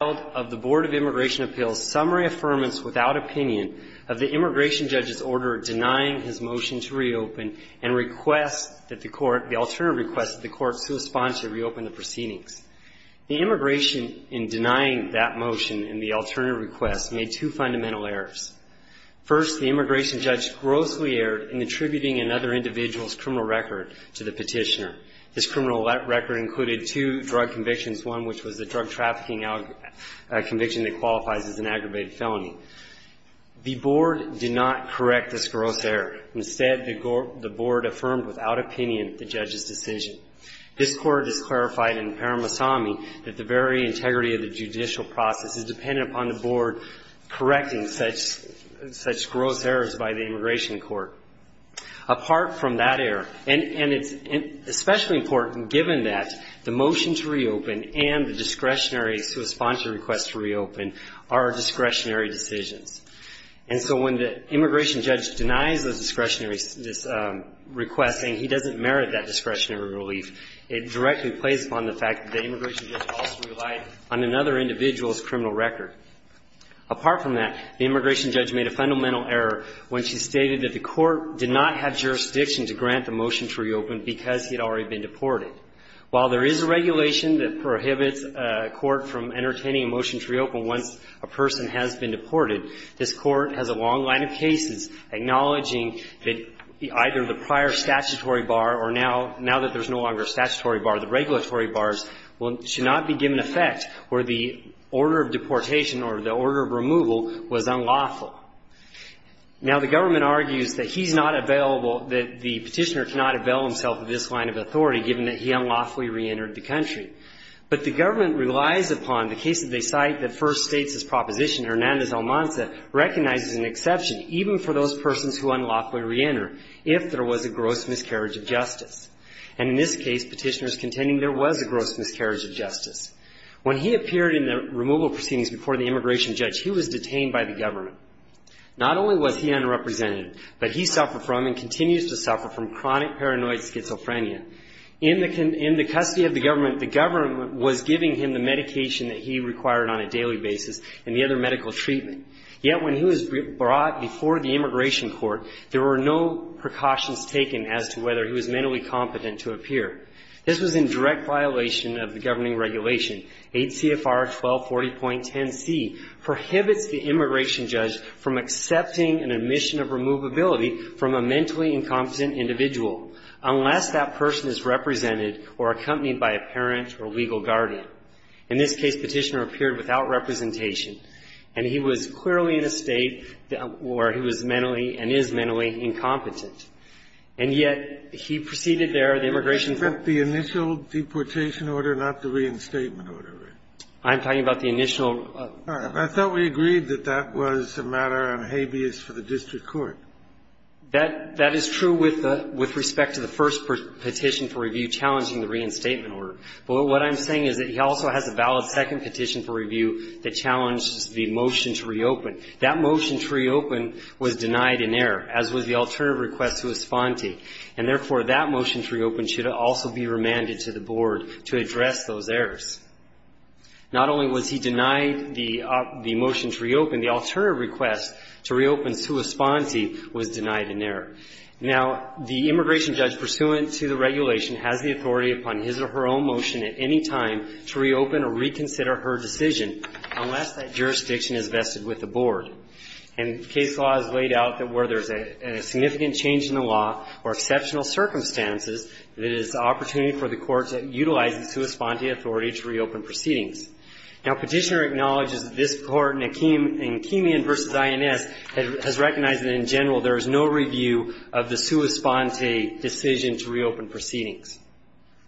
of the Board of Immigration Appeals summary affirmance without opinion of the immigration judge's order denying his motion to reopen and request that the court, the alternative request that the court corresponds to reopen the proceedings. The immigration in denying that motion in the alternative request made two fundamental errors. First, the immigration judge grossly erred in attributing another individual's criminal record to the petitioner. His criminal record included two drug convictions, one which was the drug trafficking conviction that qualifies as an aggravated felony. The board did not correct this gross error. Instead, the board affirmed without opinion the judge's decision. This court has clarified in the paramissami that the very integrity of the judicial process is dependent upon the board correcting such gross errors by the immigration court. Apart from that error, and it's especially important given that the motion to reopen and the discretionary response to request to reopen are discretionary decisions. And so when the immigration judge denies the discretionary, this request, saying he doesn't merit that discretionary relief, it directly plays upon the fact that the immigration judge also relied on another individual's criminal record. Apart from that, the immigration judge made a fundamental error when she stated that the court did not have jurisdiction to grant the motion to reopen because he had already been deported. While there is a regulation that prohibits a court from entertaining a motion to reopen once a person has been deported, this Court has a long line of cases acknowledging that either the prior statutory bar or now, now that there's no longer a statutory bar, the regulatory bars should not be given effect or the order of deportation or the order of removal was unlawful. Now, the government argues that he should not avail himself of this line of authority given that he unlawfully reentered the country. But the government relies upon the cases they cite that first states this proposition. Hernandez-Almanza recognizes an exception even for those persons who unlawfully reenter if there was a gross miscarriage of justice. And in this case, Petitioner is contending there was a gross miscarriage of justice. When he appeared in the removal proceedings before the immigration judge, he was detained by the government. Not only was he unrepresented, but he suffered from and continues to suffer from chronic paranoid schizophrenia. In the custody of the government, the government was giving him the medication that he required on a daily basis and the other medical treatment. Yet when he was brought before the immigration court, there were no precautions taken as to whether he was mentally competent to appear. This was in direct violation of the governing regulation. 8 CFR 1240.10C prohibits the immigration judge from accepting an admission of removability from a mentally incompetent individual unless that person is represented or accompanied by a parent or legal guardian. In this case, Petitioner appeared without representation, and he was clearly in a state where he was mentally and is mentally incompetent. And yet he proceeded there. In this case, Petitioner is contending that the immigration judge was not present Kennedy, do you think that the immigration judge was present at the immigration I'm talking about the immigration court. You said that the immigration court --- The initial deportation order, not the reinstatement order, right? I'm talking about the initial --- I thought we agreed that that was a matter on habeas for the district court. That is true with respect to the first petition for review challenging the reinstatement order. But what I'm saying is that he also has a valid second petition for review that challenges the motion to reopen. That motion to reopen was denied in error, as was the alternative request to Esponti. And therefore, that motion to reopen should also be remanded to the board to address those errors. Not only was he denied the motion to reopen, the alternative request to reopen to Esponti was denied in error. Now, the immigration judge pursuant to the regulation has the authority upon his or her own motion at any time to reopen or reconsider her decision, unless that jurisdiction is vested with the board. And case law has laid out that where there's a significant change in the law or exceptional circumstances, that it is an opportunity for the court to utilize the sua sponte authority to reopen proceedings. Now, petitioner acknowledges that this court in Akeemian v. INS has recognized that, in general, there is no review of the sua sponte decision to reopen proceedings.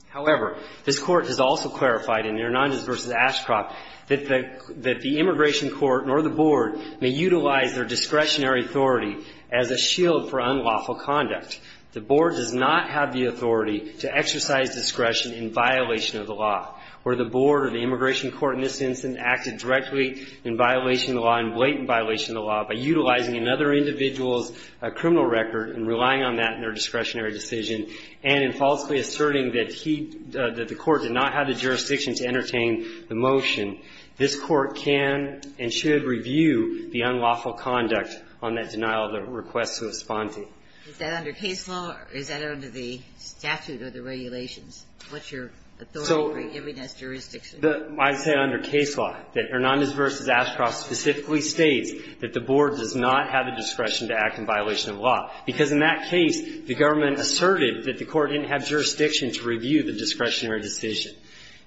However, this court has also clarified in Hernandez v. Ashcroft that the immigration court, nor the board, may utilize their discretionary authority as a shield for unlawful conduct. The board does not have the authority to exercise discretion in violation of the law. Were the board or the immigration court in this instance acted directly in violation of the law, in blatant violation of the law, by utilizing another individual's criminal record and relying on that in their discretionary decision, and in falsely asserting that he – that the court did not have the jurisdiction to entertain the motion, this court can and should review the unlawful conduct on that denial of the request to Esponti. Is that under case law or is that under the statute or the regulations? What's your authority for giving us jurisdiction? So the – I'd say under case law, that Hernandez v. Ashcroft specifically states that the board does not have the discretion to act in violation of the law, because in that case, the government asserted that the court didn't have jurisdiction to review the discretionary decision.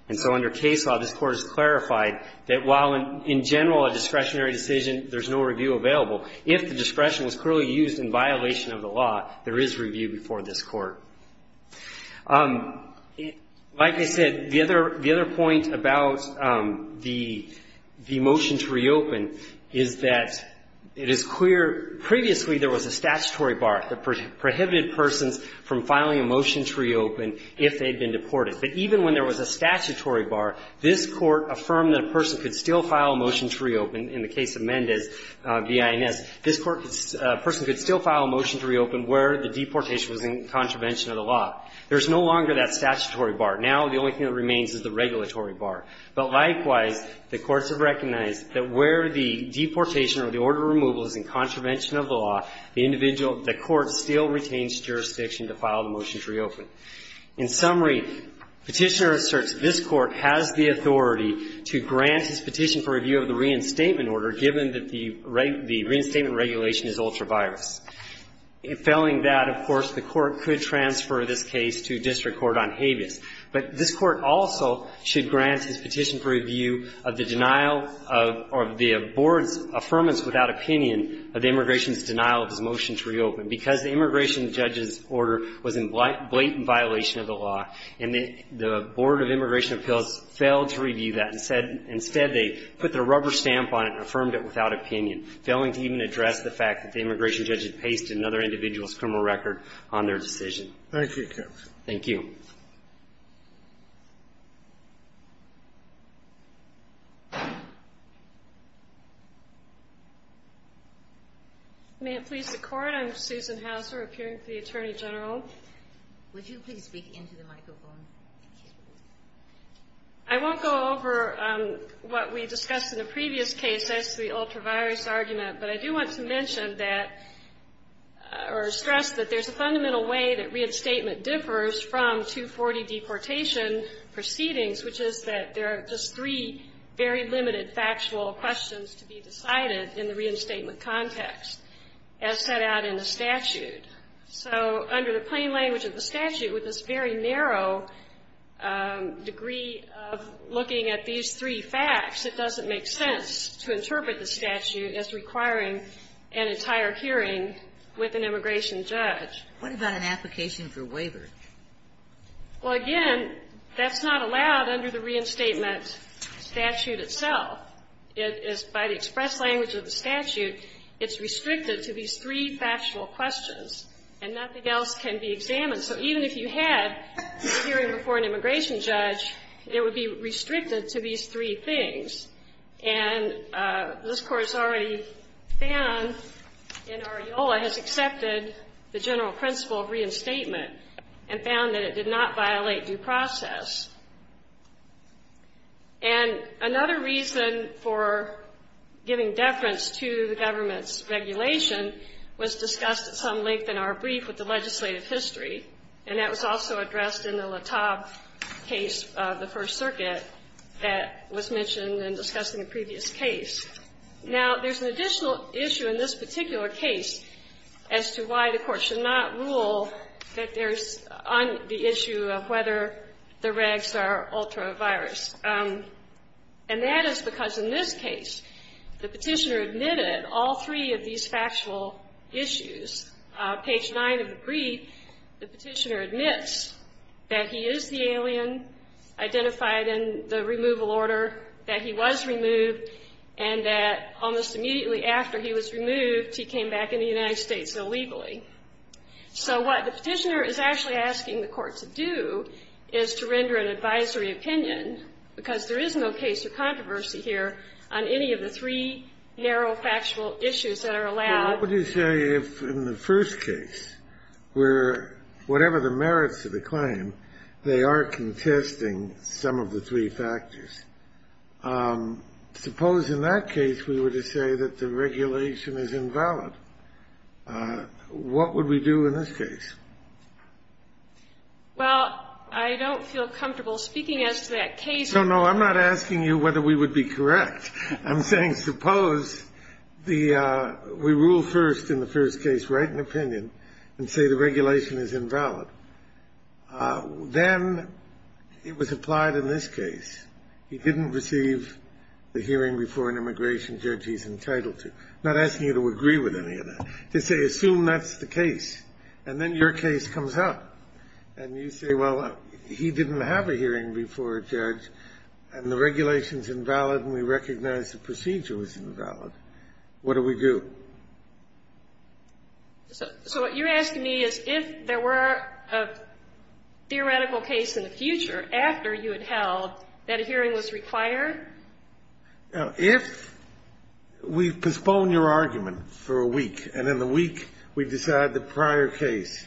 And so under case law, this court has clarified that while in general a discretionary there's no review available. If the discretion was clearly used in violation of the law, there is review before this court. Like I said, the other – the other point about the motion to reopen is that it is clear previously there was a statutory bar that prohibited persons from filing a motion to reopen if they had been deported. But even when there was a statutory bar, this court affirmed that a person could still file a motion to reopen in the case of Mendez v. INS. This court could – a person could still file a motion to reopen where the deportation was in contravention of the law. There's no longer that statutory bar. Now the only thing that remains is the regulatory bar. But likewise, the courts have recognized that where the deportation or the order of removal is in contravention of the law, the individual – the court still retains jurisdiction to file the motion to reopen. In summary, Petitioner asserts this Court has the authority to grant his petition for review of the reinstatement order, given that the reinstatement regulation is ultra-virus. Failing that, of course, the Court could transfer this case to district court on habeas. But this Court also should grant his petition for review of the denial of the board's affirmance without opinion of the immigration's denial of his motion to reopen. Because the immigration judge's order was in blatant violation of the law, and the Board of Immigration Appeals failed to review that and said – instead, they put the rubber stamp on it and affirmed it without opinion, failing to even address the fact that the immigration judge had pasted another individual's criminal record on their decision. Thank you, counsel. Thank you. May it please the Court? I'm Susan Hauser, appearing for the Attorney General. Would you please speak into the microphone? I won't go over what we discussed in the previous case as to the ultra-virus argument, but I do want to mention that – or stress that there's a fundamental way that reinstatement differs from 240 deportation proceedings, which is that there are just three very limited factual questions to be decided in the reinstatement context, as set out in the statute. So under the plain language of the statute, with this very narrow degree of looking at these three facts, it doesn't make sense to interpret the statute as requiring an entire hearing with an immigration judge. What about an application for waiver? Well, again, that's not allowed under the reinstatement statute itself. It is by the express language of the statute. It's restricted to these three factual questions, and nothing else can be examined. So even if you had a hearing before an immigration judge, it would be restricted to these three things. And this Court has already found in Arreola has accepted the general principle of reinstatement and found that it did not violate due process. And another reason for giving deference to the government's regulation was discussed at some length in our brief with the legislative history, and that was also addressed in the LaTaube case of the First Circuit that was mentioned in discussing the previous case. Now, there's an additional issue in this particular case as to why the Court should not rule that there's on the issue of whether the regs are ultra-virus. And that is because in this case, the Petitioner admitted all three of these factual issues. Page 9 of the brief, the Petitioner admits that he is the alien identified in the removal order, that he was removed, and that almost immediately after he was removed, he came back in the United States illegally. So what the Petitioner is actually asking the Court to do is to render an advisory opinion, because there is no case or controversy here on any of the three narrow factual issues that are allowed. Well, what would you say if in the first case, where whatever the merits of the claim, they are contesting some of the three factors? Suppose in that case we were to say that the regulation is invalid. What would we do in this case? Well, I don't feel comfortable speaking as to that case. No, no, I'm not asking you whether we would be correct. I'm saying suppose we rule first in the first case, write an opinion, and say the regulation is invalid. Then it was applied in this case. He didn't receive the hearing before an immigration judge he's entitled to. I'm not asking you to agree with any of that. Just say assume that's the case. And then your case comes up. And you say, well, he didn't have a hearing before a judge, and the regulation is invalid. What do we do? So what you're asking me is if there were a theoretical case in the future after you had held that a hearing was required? If we postpone your argument for a week, and in the week we decide the prior case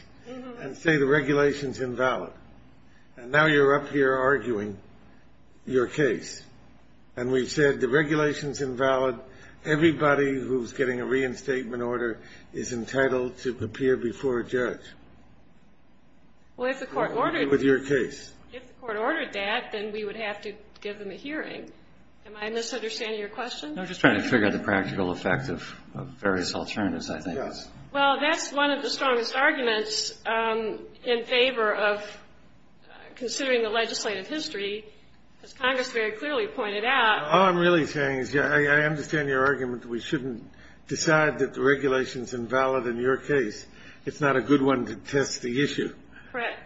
and say the regulation is invalid, and now you're up here arguing your case, and we've decided the regulation's invalid, everybody who's getting a reinstatement order is entitled to appear before a judge. Well, if the court ordered that, then we would have to give them a hearing. Am I misunderstanding your question? No, just trying to figure out the practical effect of various alternatives, I think. Well, that's one of the strongest arguments in favor of considering the legislative history. As Congress very clearly pointed out. All I'm really saying is I understand your argument that we shouldn't decide that the regulation's invalid in your case. It's not a good one to test the issue. Correct.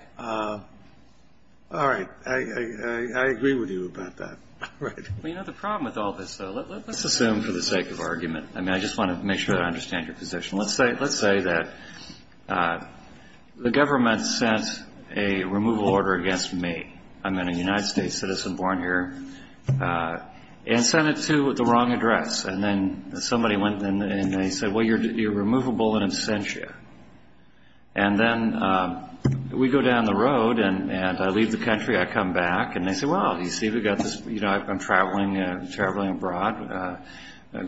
All right. I agree with you about that. All right. Well, you know, the problem with all this, though, let's assume for the sake of argument I mean, I just want to make sure that I understand your position. Let's say that the government sent a removal order against me. I'm a United States citizen born here. And sent it to the wrong address. And then somebody went and they said, well, you're removable in absentia. And then we go down the road and I leave the country, I come back, and they say, well, you see, we've got this, you know, I'm traveling abroad.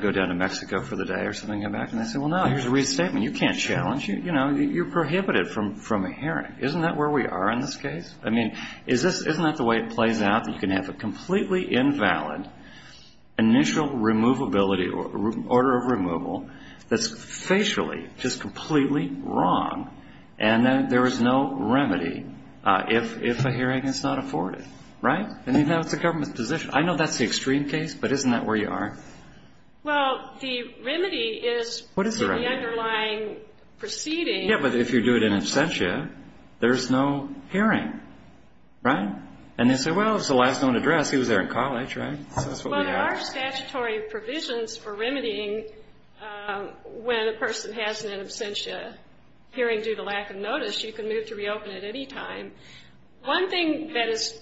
Go down to Mexico for the day or something, come back. And I say, well, no, here's a reinstatement. You can't challenge. You know, you're prohibited from a hearing. Isn't that where we are in this case? I mean, isn't that the way it plays out, that you can have a completely invalid initial removability or order of removal that's facially just completely wrong, and then there is no remedy if a hearing is not afforded, right? I mean, that's the government's position. I know that's the extreme case, but isn't that where you are? Well, the remedy is for the underlying proceeding. Yeah, but if you do it in absentia, there's no hearing, right? And they say, well, it's a last known address. He was there in college, right? So that's what we have. Well, there are statutory provisions for remedying when a person has an in absentia hearing due to lack of notice. You can move to reopen at any time. One thing that is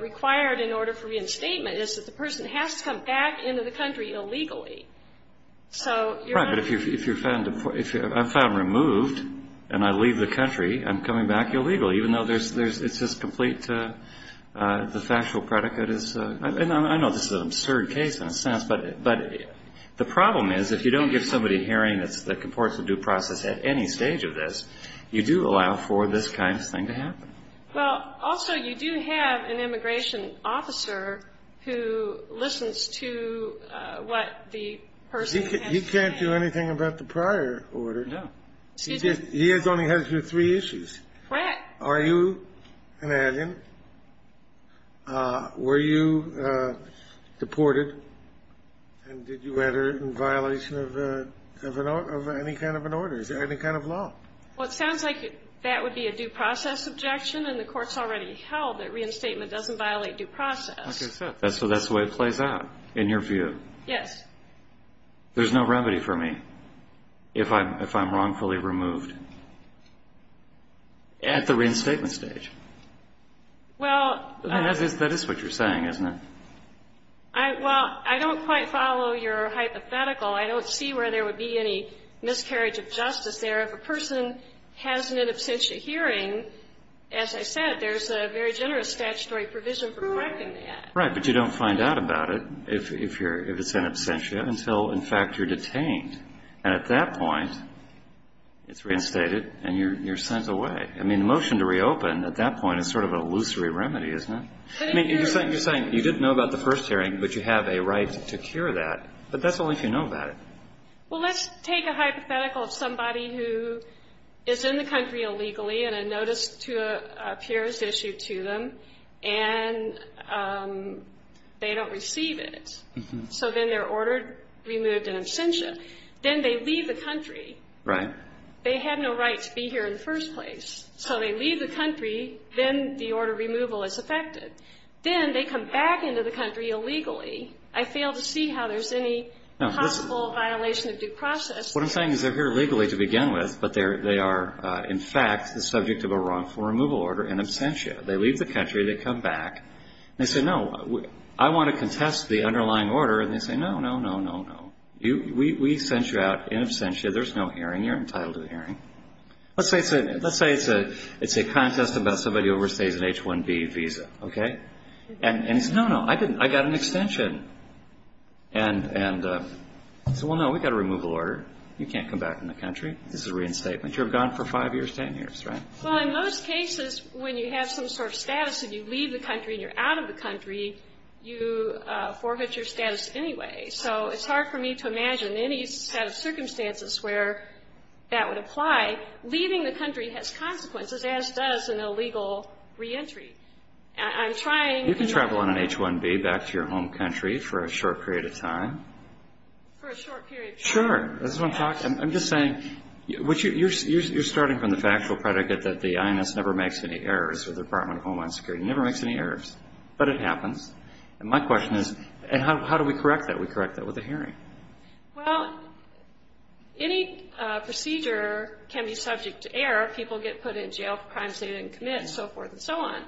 required in order for reinstatement is that the person has to come back into the country illegally. Right, but if I'm removed and I leave the country, I'm coming back illegally, even though it's just complete, the factual predicate is, and I know this is an absurd case in a sense, but the problem is if you don't give somebody a hearing that supports a due process at any stage of this, you do allow for this kind of thing to happen. Well, also, you do have an immigration officer who listens to what the person has to say. He can't do anything about the prior order. No. He has only had it through three issues. What? Are you an alien? Were you deported? And did you enter in violation of any kind of an order, any kind of law? Well, it sounds like that would be a due process objection, and the Court's already held that reinstatement doesn't violate due process. Okay. So that's the way it plays out in your view? Yes. There's no remedy for me if I'm wrongfully removed at the reinstatement stage? Well, I don't quite follow your hypothetical. I don't see where there would be any miscarriage of justice there. If a person has an absentia hearing, as I said, there's a very generous statutory provision for correcting that. Right, but you don't find out about it if it's an absentia until, in fact, you're detained. And at that point, it's reinstated and you're sent away. I mean, the motion to reopen at that point is sort of a illusory remedy, isn't it? You're saying you didn't know about the first hearing, but you have a right to cure that, but that's only if you know about it. Well, let's take a hypothetical of somebody who is in the country illegally and a notice appears issued to them, and they don't receive it. So then they're ordered removed in absentia. Then they leave the country. Right. They had no right to be here in the first place. So they leave the country, then the order removal is effected. Then they come back into the country illegally. I fail to see how there's any possible violation of due process. What I'm saying is they're here illegally to begin with, but they are, in fact, the subject of a wrongful removal order in absentia. They leave the country. They come back. They say, no, I want to contest the underlying order. And they say, no, no, no, no, no. We sent you out in absentia. There's no hearing. You're entitled to a hearing. Let's say it's a contest about somebody who overstays an H-1B visa, okay? And he says, no, no, I didn't. It's an extension. And so, well, no, we've got a removal order. You can't come back in the country. This is a reinstatement. You're gone for five years, ten years, right? Well, in most cases, when you have some sort of status and you leave the country and you're out of the country, you forfeit your status anyway. So it's hard for me to imagine any set of circumstances where that would apply. Leaving the country has consequences, as does an illegal reentry. I'm trying. You can travel on an H-1B back to your home country for a short period of time. For a short period of time. Sure. I'm just saying, you're starting from the factual predicate that the INS never makes any errors or the Department of Homeland Security never makes any errors. But it happens. And my question is, how do we correct that? We correct that with a hearing. Well, any procedure can be subject to error. People get put in jail for crimes they didn't commit and so forth and so on.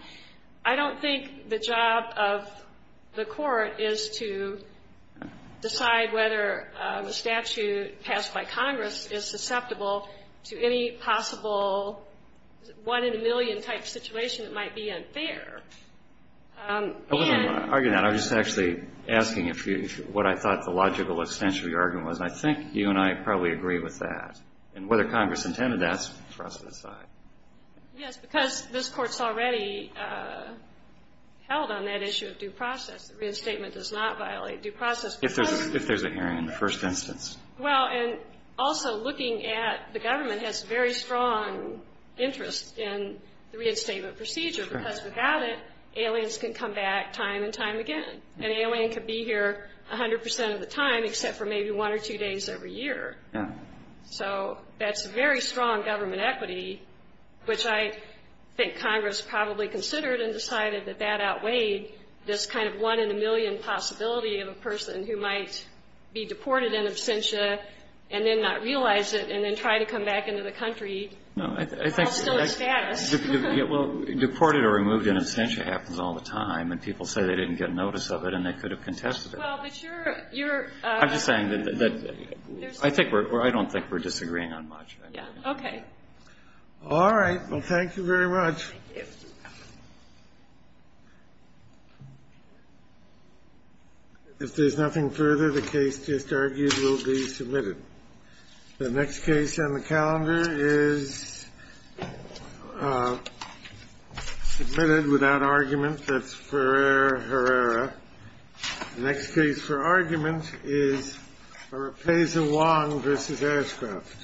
I don't think the job of the court is to decide whether a statute passed by Congress is susceptible to any possible one-in-a-million type situation that might be unfair. I wasn't going to argue that. I was just actually asking what I thought the logical extension of your argument was. And I think you and I probably agree with that. And whether Congress intended that is for us to decide. Yes, because this Court's already held on that issue of due process. The reinstatement does not violate due process. If there's a hearing in the first instance. Well, and also looking at the government has very strong interest in the reinstatement procedure. Because without it, aliens can come back time and time again. An alien could be here 100 percent of the time, except for maybe one or two days every year. Yeah. So that's very strong government equity, which I think Congress probably considered and decided that that outweighed this kind of one-in-a-million possibility of a person who might be deported in absentia and then not realize it and then try to come back into the country while still in status. Deported or removed in absentia happens all the time. And people say they didn't get notice of it and they could have contested it. I'm just saying that I don't think we're disagreeing on much. Yeah. Okay. All right. Well, thank you very much. Thank you. If there's nothing further, the case just argued will be submitted. The next case on the calendar is submitted without argument. That's Ferreira. The next case for argument is Repesa Wong v. Ashcroft.